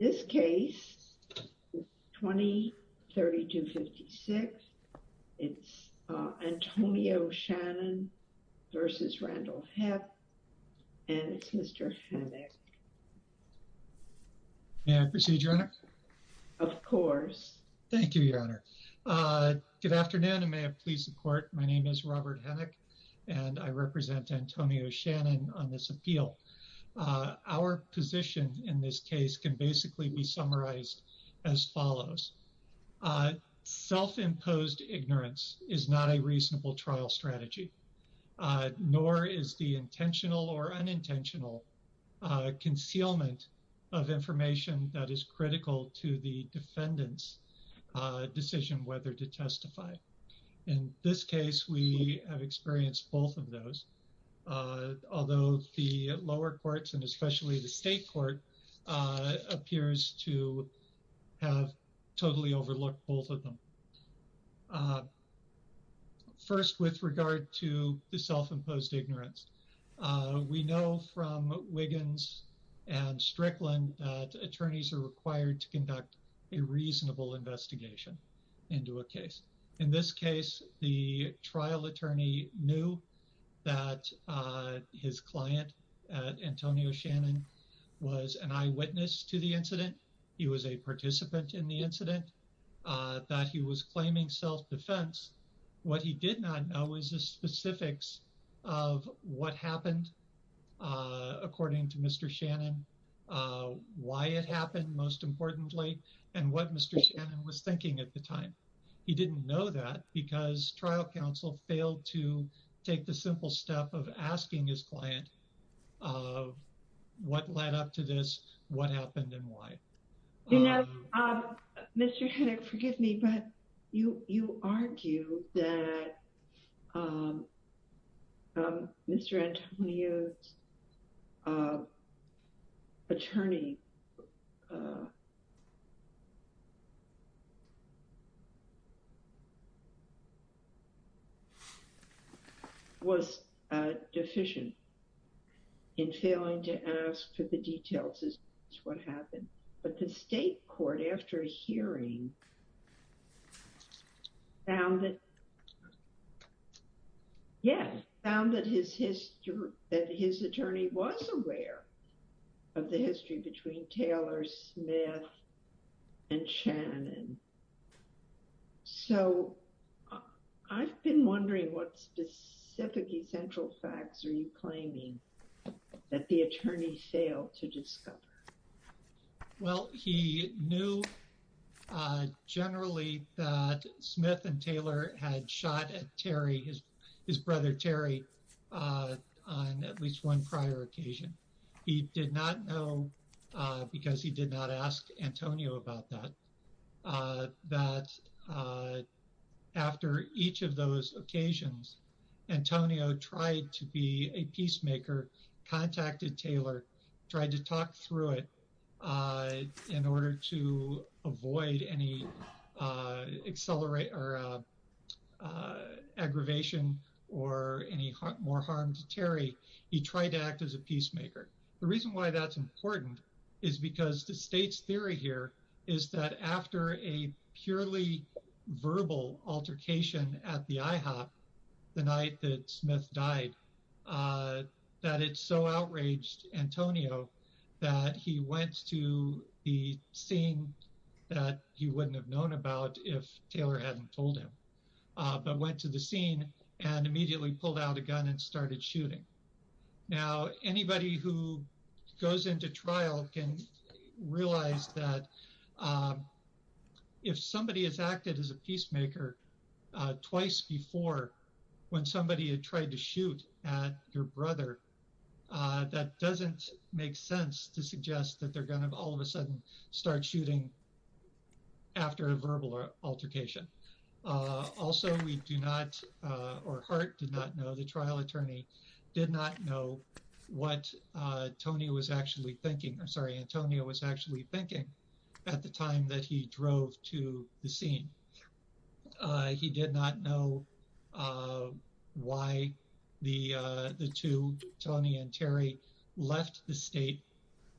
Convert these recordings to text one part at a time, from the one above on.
This case is 20-3256. It's Antonio Shannon v. Randall Hepp and it's Mr. Hennick. May I proceed, Your Honor? Of course. Thank you, Your Honor. Good afternoon and may I please support. My name is Robert Hennick and I represent Antonio Shannon on this appeal. Our position in this case can basically be summarized as follows. Self-imposed ignorance is not a reasonable trial strategy, nor is the intentional or unintentional concealment of information that is critical to the defendant's decision whether to testify. In this case, we have experienced both of those, although the lower courts and especially the state court appears to have totally overlooked both of them. First, with regard to the self-imposed ignorance, we know from Wiggins and Strickland that attorneys are required to conduct a reasonable investigation into a case. In this case, the trial attorney knew that his client, Antonio Shannon, was an eyewitness to the incident. He was a participant in the incident, that he was claiming self-defense. What he did not know is the specifics of what happened according to Mr. Shannon, why it happened most importantly, and what Mr. Shannon was thinking at the time. He didn't know that because trial counsel failed to take the simple step of asking his client what led up to this, what happened, and why. You know, Mr. Hennick, forgive me, but you argue that Mr. Antonio's attorney was deficient in failing to ask for the details as to what happened. But the state court, after hearing, found that his attorney was aware of the history between Taylor, Smith, and Shannon. So, I've been wondering what specific essential facts are you claiming that the attorney failed to discover? Well, he knew generally that Smith and Taylor had shot at Terry, his brother Terry, on at least one prior occasion. He did not know because he did not ask for the details. But he did know that on those occasions, Antonio tried to be a peacemaker, contacted Taylor, tried to talk through it in order to avoid any aggravation or any more harm to Terry. He tried to act as a peacemaker. The reason why that's important is because the state's verbal altercation at the IHOP the night that Smith died, that it so outraged Antonio that he went to the scene that he wouldn't have known about if Taylor hadn't told him, but went to the scene and immediately pulled out a gun and started shooting. Now, anybody who goes into trial can realize that if somebody has acted as a peacemaker twice before when somebody had tried to shoot at your brother, that doesn't make sense to suggest that they're going to all of a sudden start shooting after a verbal altercation. Also, we do not, or Hart did not know, the trial attorney did not know what Antonio was actually thinking. I'm sorry, Antonio was actually thinking at the time that he drove to the scene. He did not know why the two, Tony and Terry, left the state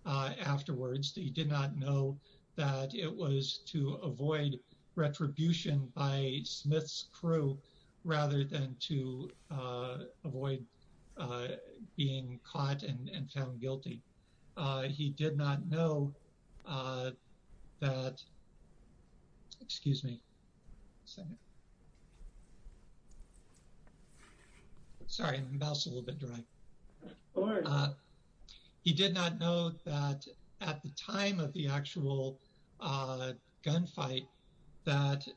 afterwards. He did not know that it was to avoid retribution by Smith's crew rather than to avoid being caught and found guilty. He did not know that, excuse me, sorry, my mouse is a little bit dry. He did not know that at the time of the actual gunfight that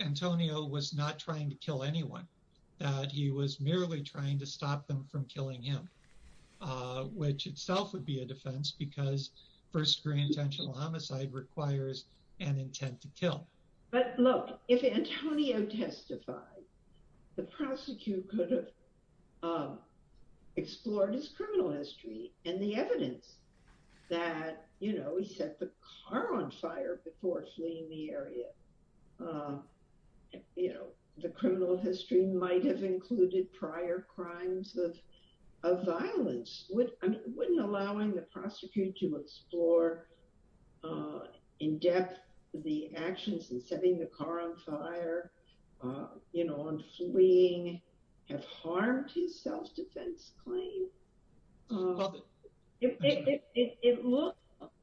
Antonio was not trying to kill anyone, that he was merely trying to stop them from killing him, which itself would be a defense because first-degree intentional homicide requires an intent to kill. Look, if Antonio testified, the prosecutor could have explored his criminal history and the evidence that he set the car on fire before fleeing the area. The criminal history might have included prior crimes of violence. Wouldn't allowing the prosecutor to explore in depth the actions in setting the car on fire and fleeing have harmed his self-defense claim? It looked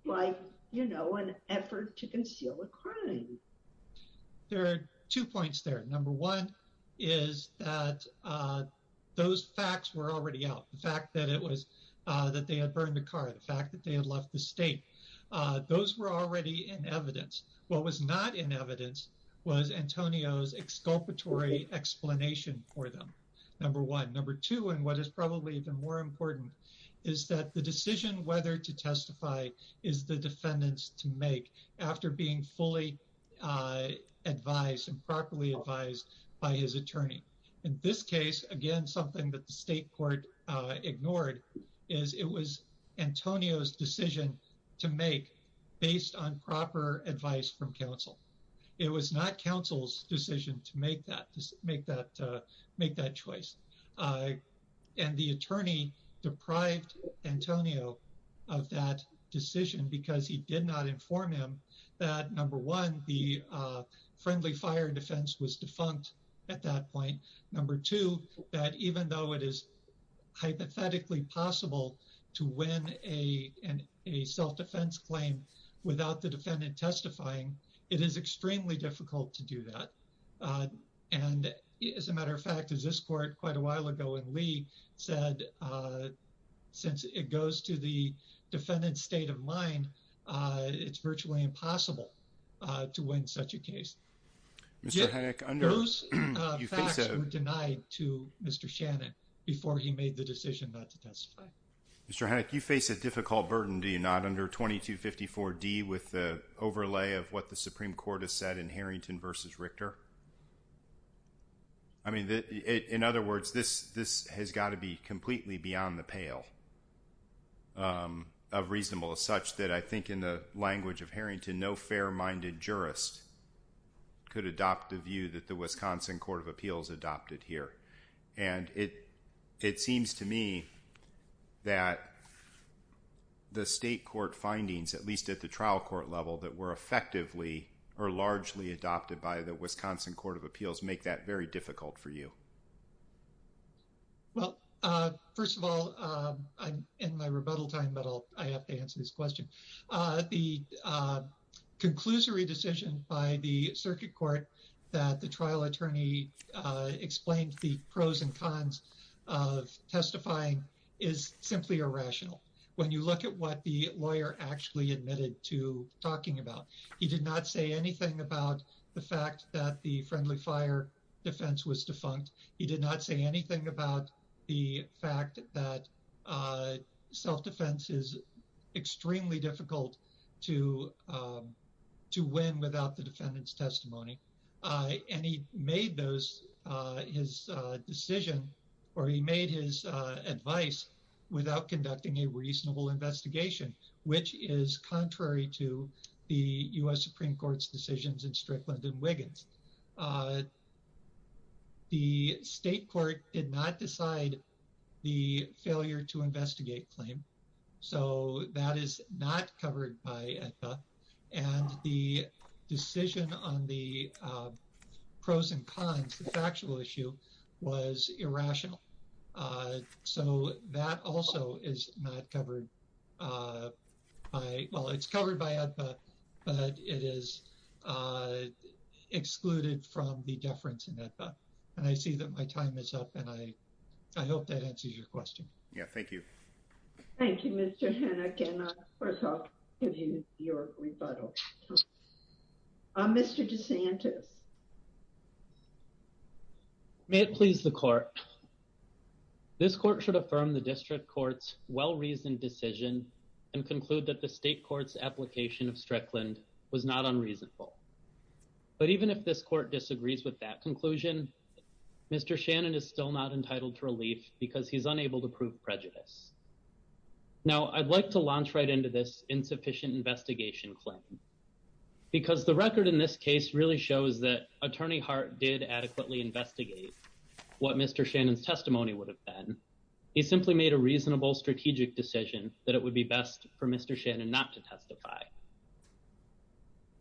like, you know, an effort to conceal a crime. There are two points there. Number one is that those facts were already out. The fact that it was that they had burned the car, the fact that they had left the state, those were already in evidence. What was not in evidence was Antonio's exculpatory explanation for them, number one. Number two, and what is probably even more important, is that the decision whether to testify is the defendant's to make after being fully advised and properly advised by his attorney. In this case, again, something that the state court ignored is it was Antonio's decision to make based on proper advice from counsel. It was not counsel's decision to make that choice. And the attorney deprived Antonio of that decision because he did not inform him that, number one, the friendly fire defense was defunct at that point. Number two, that even though it is hypothetically possible to win a self-defense claim without the defendant testifying, it is extremely difficult to do that. And as a matter of fact, as this court quite a while ago in Lee said, since it goes to the defendant's state of mind, it's virtually impossible to win such a case. Those facts were denied to Mr. Shannon before he made the decision not to testify. Mr. Hanek, you face a difficult burden, do you not, under 2254D with the overlay of what the Supreme Court has said in Harrington v. Richter? I mean, in other words, this has got to be completely beyond the pale of reasonable as such that I think in the language of Harrington, no fair-minded jurist could adopt the view that the Wisconsin Court of Appeals adopted here. And it seems to me that the state court findings, at least at the trial court level, that were effectively or largely adopted by the Wisconsin Court of Appeals make that very difficult for you. Well, first of all, I'm in my rebuttal time, but I have to answer this question. The conclusory decision by the circuit court that the trial attorney explained the pros and cons of testifying is simply irrational. When you look at what the lawyer actually admitted to talking about, he did not say anything about the fact that the friendly fire defense was defunct. He did not say anything about the fact that self-defense is extremely difficult to win without the defendant's testimony. And he made his decision or he made his advice without conducting a reasonable investigation, which is contrary to the U.S. Supreme Court's Strickland and Wiggins. The state court did not decide the failure to investigate claim, so that is not covered by AEDPA. And the decision on the pros and cons, the factual issue, was irrational. So that also is not covered by, well, it's covered by AEDPA, but it is excluded from the deference in AEDPA. And I see that my time is up, and I hope that answers your question. Yeah, thank you. Thank you, Mr. Hennock, and first off, I'll give you your rebuttal. Mr. DeSantis. May it please the court. This court should affirm the district court's well-reasoned decision and conclude that the state court's application of Strickland was not unreasonable. But even if this court disagrees with that conclusion, Mr. Shannon is still not entitled to relief because he's unable to prove prejudice. Now, I'd like to launch right into this insufficient investigation claim. Because the record in this case really shows that Attorney Hart did adequately investigate what Mr. Shannon's testimony would have been. He simply made a reasonable strategic decision that it would be best for Mr. Shannon not to testify.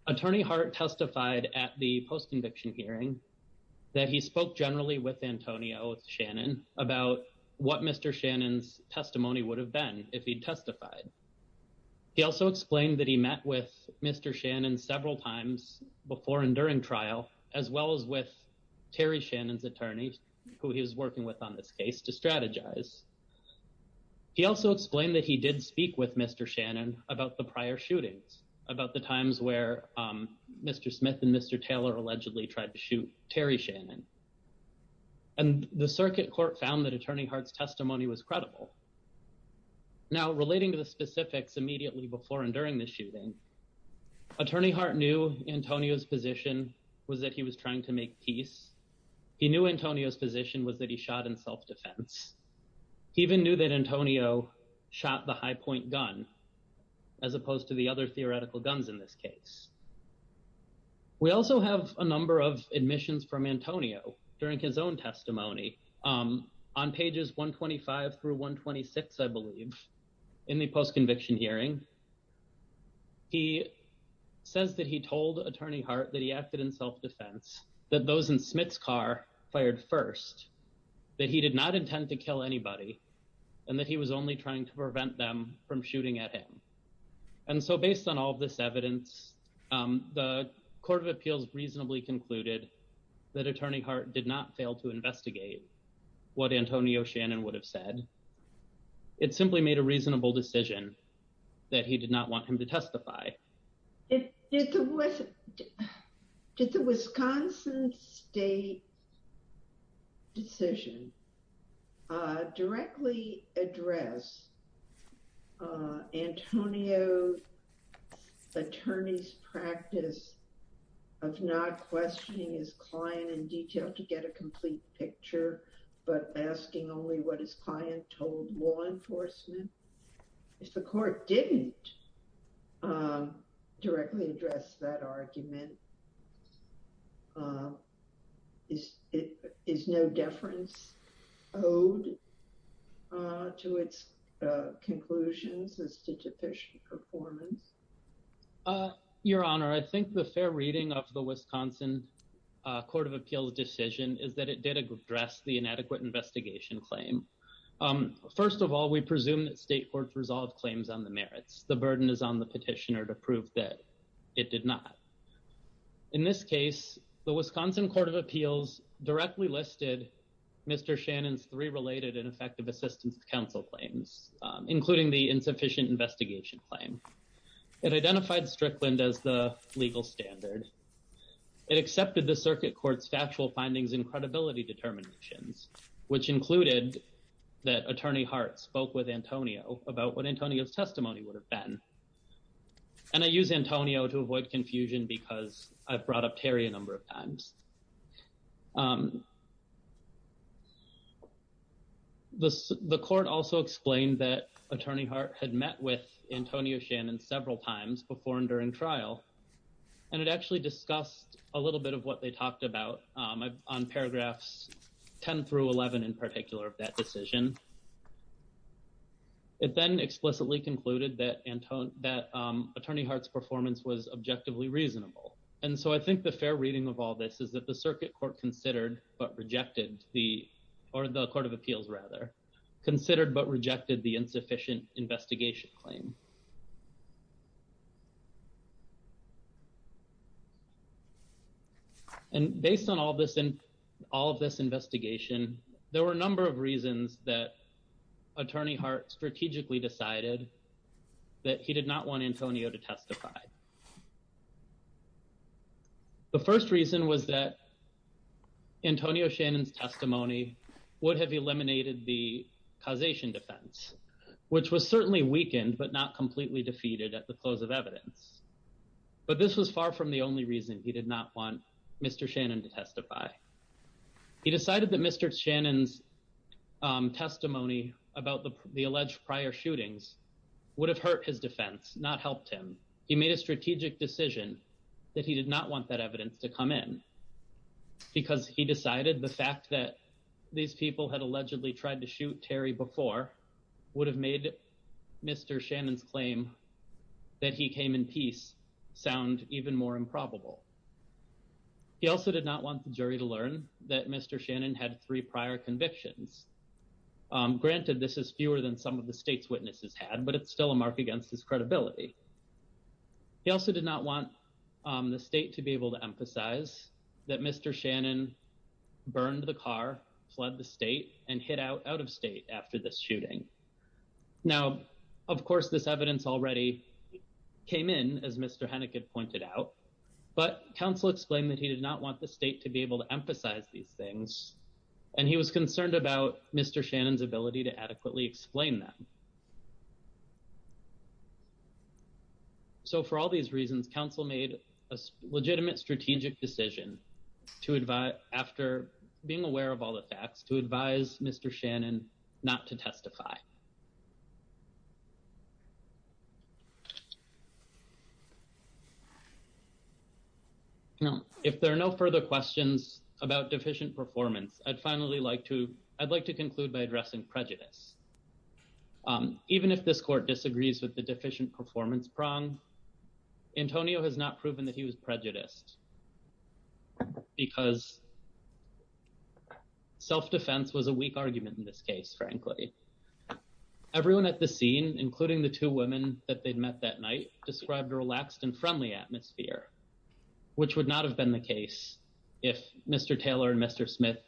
Attorney Hart testified at the post conviction hearing that he spoke generally with Antonio Shannon about what Mr. Shannon's testimony would have been if he'd testified. He also explained that he met with Mr. Shannon several times before and during trial, as well as with Terry Shannon's attorney, who he was working with on this case to strategize. He also explained that he did speak with Mr. Shannon about the prior shootings, about the times where Mr. Smith and Mr. Taylor allegedly tried to shoot Terry Shannon. And the circuit court found that Attorney Hart's testimony was credible. Now, relating to the specifics immediately before and during the shooting, Attorney Hart knew Antonio's position was that he was trying to make peace. He knew Antonio's position was that he shot in self-defense. He even knew that Antonio shot the high point gun, as opposed to the other theoretical guns in this case. We also have a number of admissions from Antonio during his own testimony on pages 125 through 126, I believe, in the post conviction hearing. He says that he told Attorney Hart that he acted in self-defense, that those in Smith's car fired first, that he did not intend to kill anybody, and that he was only trying to prevent them from shooting at him. And so based on all of this the Court of Appeals reasonably concluded that Attorney Hart did not fail to investigate what Antonio Shannon would have said. It simply made a reasonable decision that he did not want him to testify. Did the Wisconsin State decision directly address Antonio's attorney's practice of not questioning his client in detail to get a complete picture, but asking only what his client told law enforcement? If the court didn't directly address that argument, is no deference owed to its conclusions as to deficient performance? Your Honor, I think the fair reading of the Wisconsin Court of Appeals decision is that it did address the inadequate investigation claim. First of all, we presume that state courts resolve claims on the merits. The burden is on the petitioner to prove that it did not. In this case, the Wisconsin Court of Appeals directly listed Mr. Shannon's three related and effective assistance to counsel claims, including the insufficient investigation claim. It identified Strickland as the legal standard. It accepted the circuit court's factual findings and credibility determinations, which included that Attorney Hart spoke with about what Antonio's testimony would have been. And I use Antonio to avoid confusion because I've brought up Terry a number of times. The court also explained that Attorney Hart had met with Antonio Shannon several times before and during trial, and it actually discussed a little bit of what they talked about on paragraphs 10 through 11 in particular of that decision. It then explicitly concluded that Attorney Hart's performance was objectively reasonable. And so I think the fair reading of all this is that the circuit court considered but rejected the, or the Court of Appeals rather, considered but rejected the insufficient investigation claim. And based on all of this investigation, there were a number of reasons that strategically decided that he did not want Antonio to testify. The first reason was that Antonio Shannon's testimony would have eliminated the causation defense, which was certainly weakened but not completely defeated at the close of evidence. But this was far from the only reason he did not want Mr. Shannon to testify. He decided that Mr. Shannon's testimony about the alleged prior shootings would have hurt his defense, not helped him. He made a strategic decision that he did not want that evidence to come in because he decided the fact that these people had allegedly tried to shoot Terry before would have made Mr. Shannon's claim that he came in peace sound even more improbable. He also did not want the jury to learn that Mr. Shannon had three prior convictions. Granted, this is fewer than some of the state's witnesses had, but it's still a mark against his credibility. He also did not want the state to be able to emphasize that Mr. Shannon burned the car, fled the state, and hid out out of state after this shooting. Now, of course, this evidence already came in, as Mr. Hennig had pointed out, but counsel explained that he did not want the state to be able to emphasize these things, and he was concerned about Mr. Shannon's ability to adequately explain them. So for all these reasons, counsel made a legitimate strategic decision to advise, after being aware of all the facts, to advise Mr. Shannon not to testify. Now, if there are no further questions about deficient performance, I'd finally like to, I'd like to conclude by addressing prejudice. Even if this court disagrees with the deficient performance prong, Antonio has not proven that he was prejudiced because self-defense was a weak argument in this case, frankly. Everyone at the scene, including the two women that they'd met that night, described a relaxed and friendly atmosphere, which would not have been the case if Mr. Taylor and Mr. Smith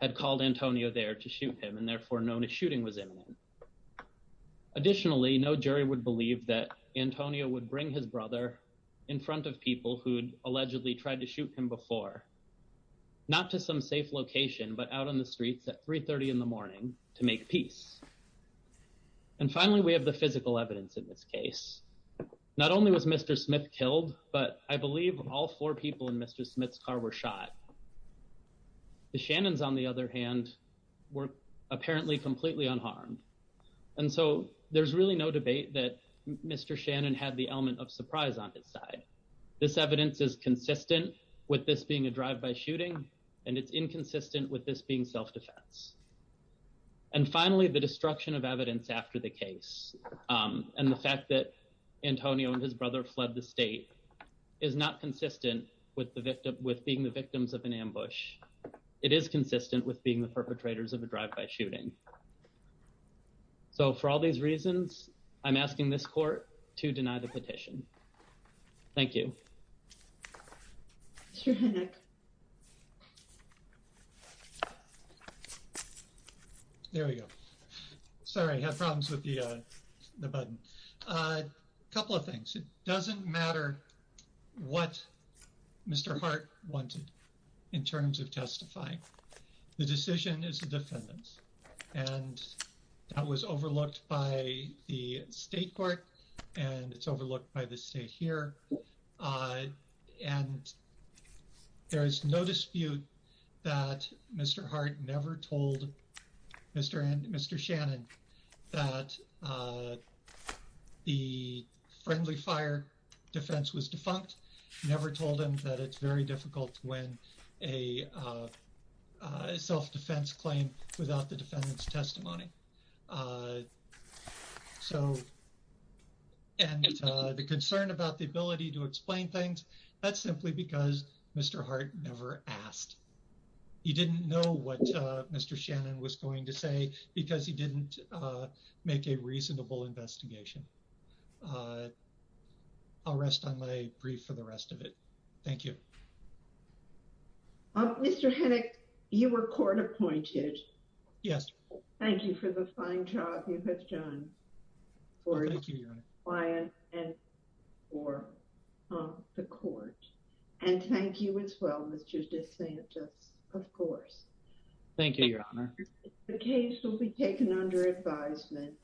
had called Antonio there to shoot him and therefore known a shooting was imminent. Additionally, no jury would believe that Antonio would bring his brother in front of people who'd allegedly tried to shoot him before, not to some safe location, but out on the streets at 3.30 in the morning to make peace. And finally, we have the physical evidence in this case. Not only was Mr. Smith killed, but I believe all four people in Mr. Smith's car were shot. The Shannons, on the other hand, were apparently completely unharmed. And so there's really no debate that Mr. Shannon had the element of surprise on his side. This evidence is consistent with this being a drive-by shooting, and it's inconsistent with this being self-defense. And finally, the destruction of evidence after the case, and the fact that Antonio and his brother fled the state, is not consistent with being the victims of an ambush. It is consistent with being the perpetrators of a drive-by shooting. So for all these reasons, I'm asking this court to deny the petition. Thank you. Mr. Hennock. There we go. Sorry, I had problems with the button. A couple of things. It doesn't matter what Mr. Hart wanted in terms of testifying. The decision is the defendant's. And that was overlooked by the state court, and it's overlooked by the state here. And there is no dispute that Mr. Hart never told Mr. Shannon that the friendly fire defense was defunct, never told him that it's very difficult to win a self-defense claim without the defendant's testimony. So, and the concern about the ability to explain things, that's simply because Mr. Hart never asked. He didn't know what Mr. Shannon was going to say, because he didn't make a reasonable investigation. I'll rest on my brief for the rest of it. Thank you. Mr. Hennock, you were court appointed. Yes. Thank you for that. Thank you for the fine job you have done for your client and for the court. And thank you as well, Mr. DeSantis, of course. Thank you, Your Honor. The case will be taken under advisement.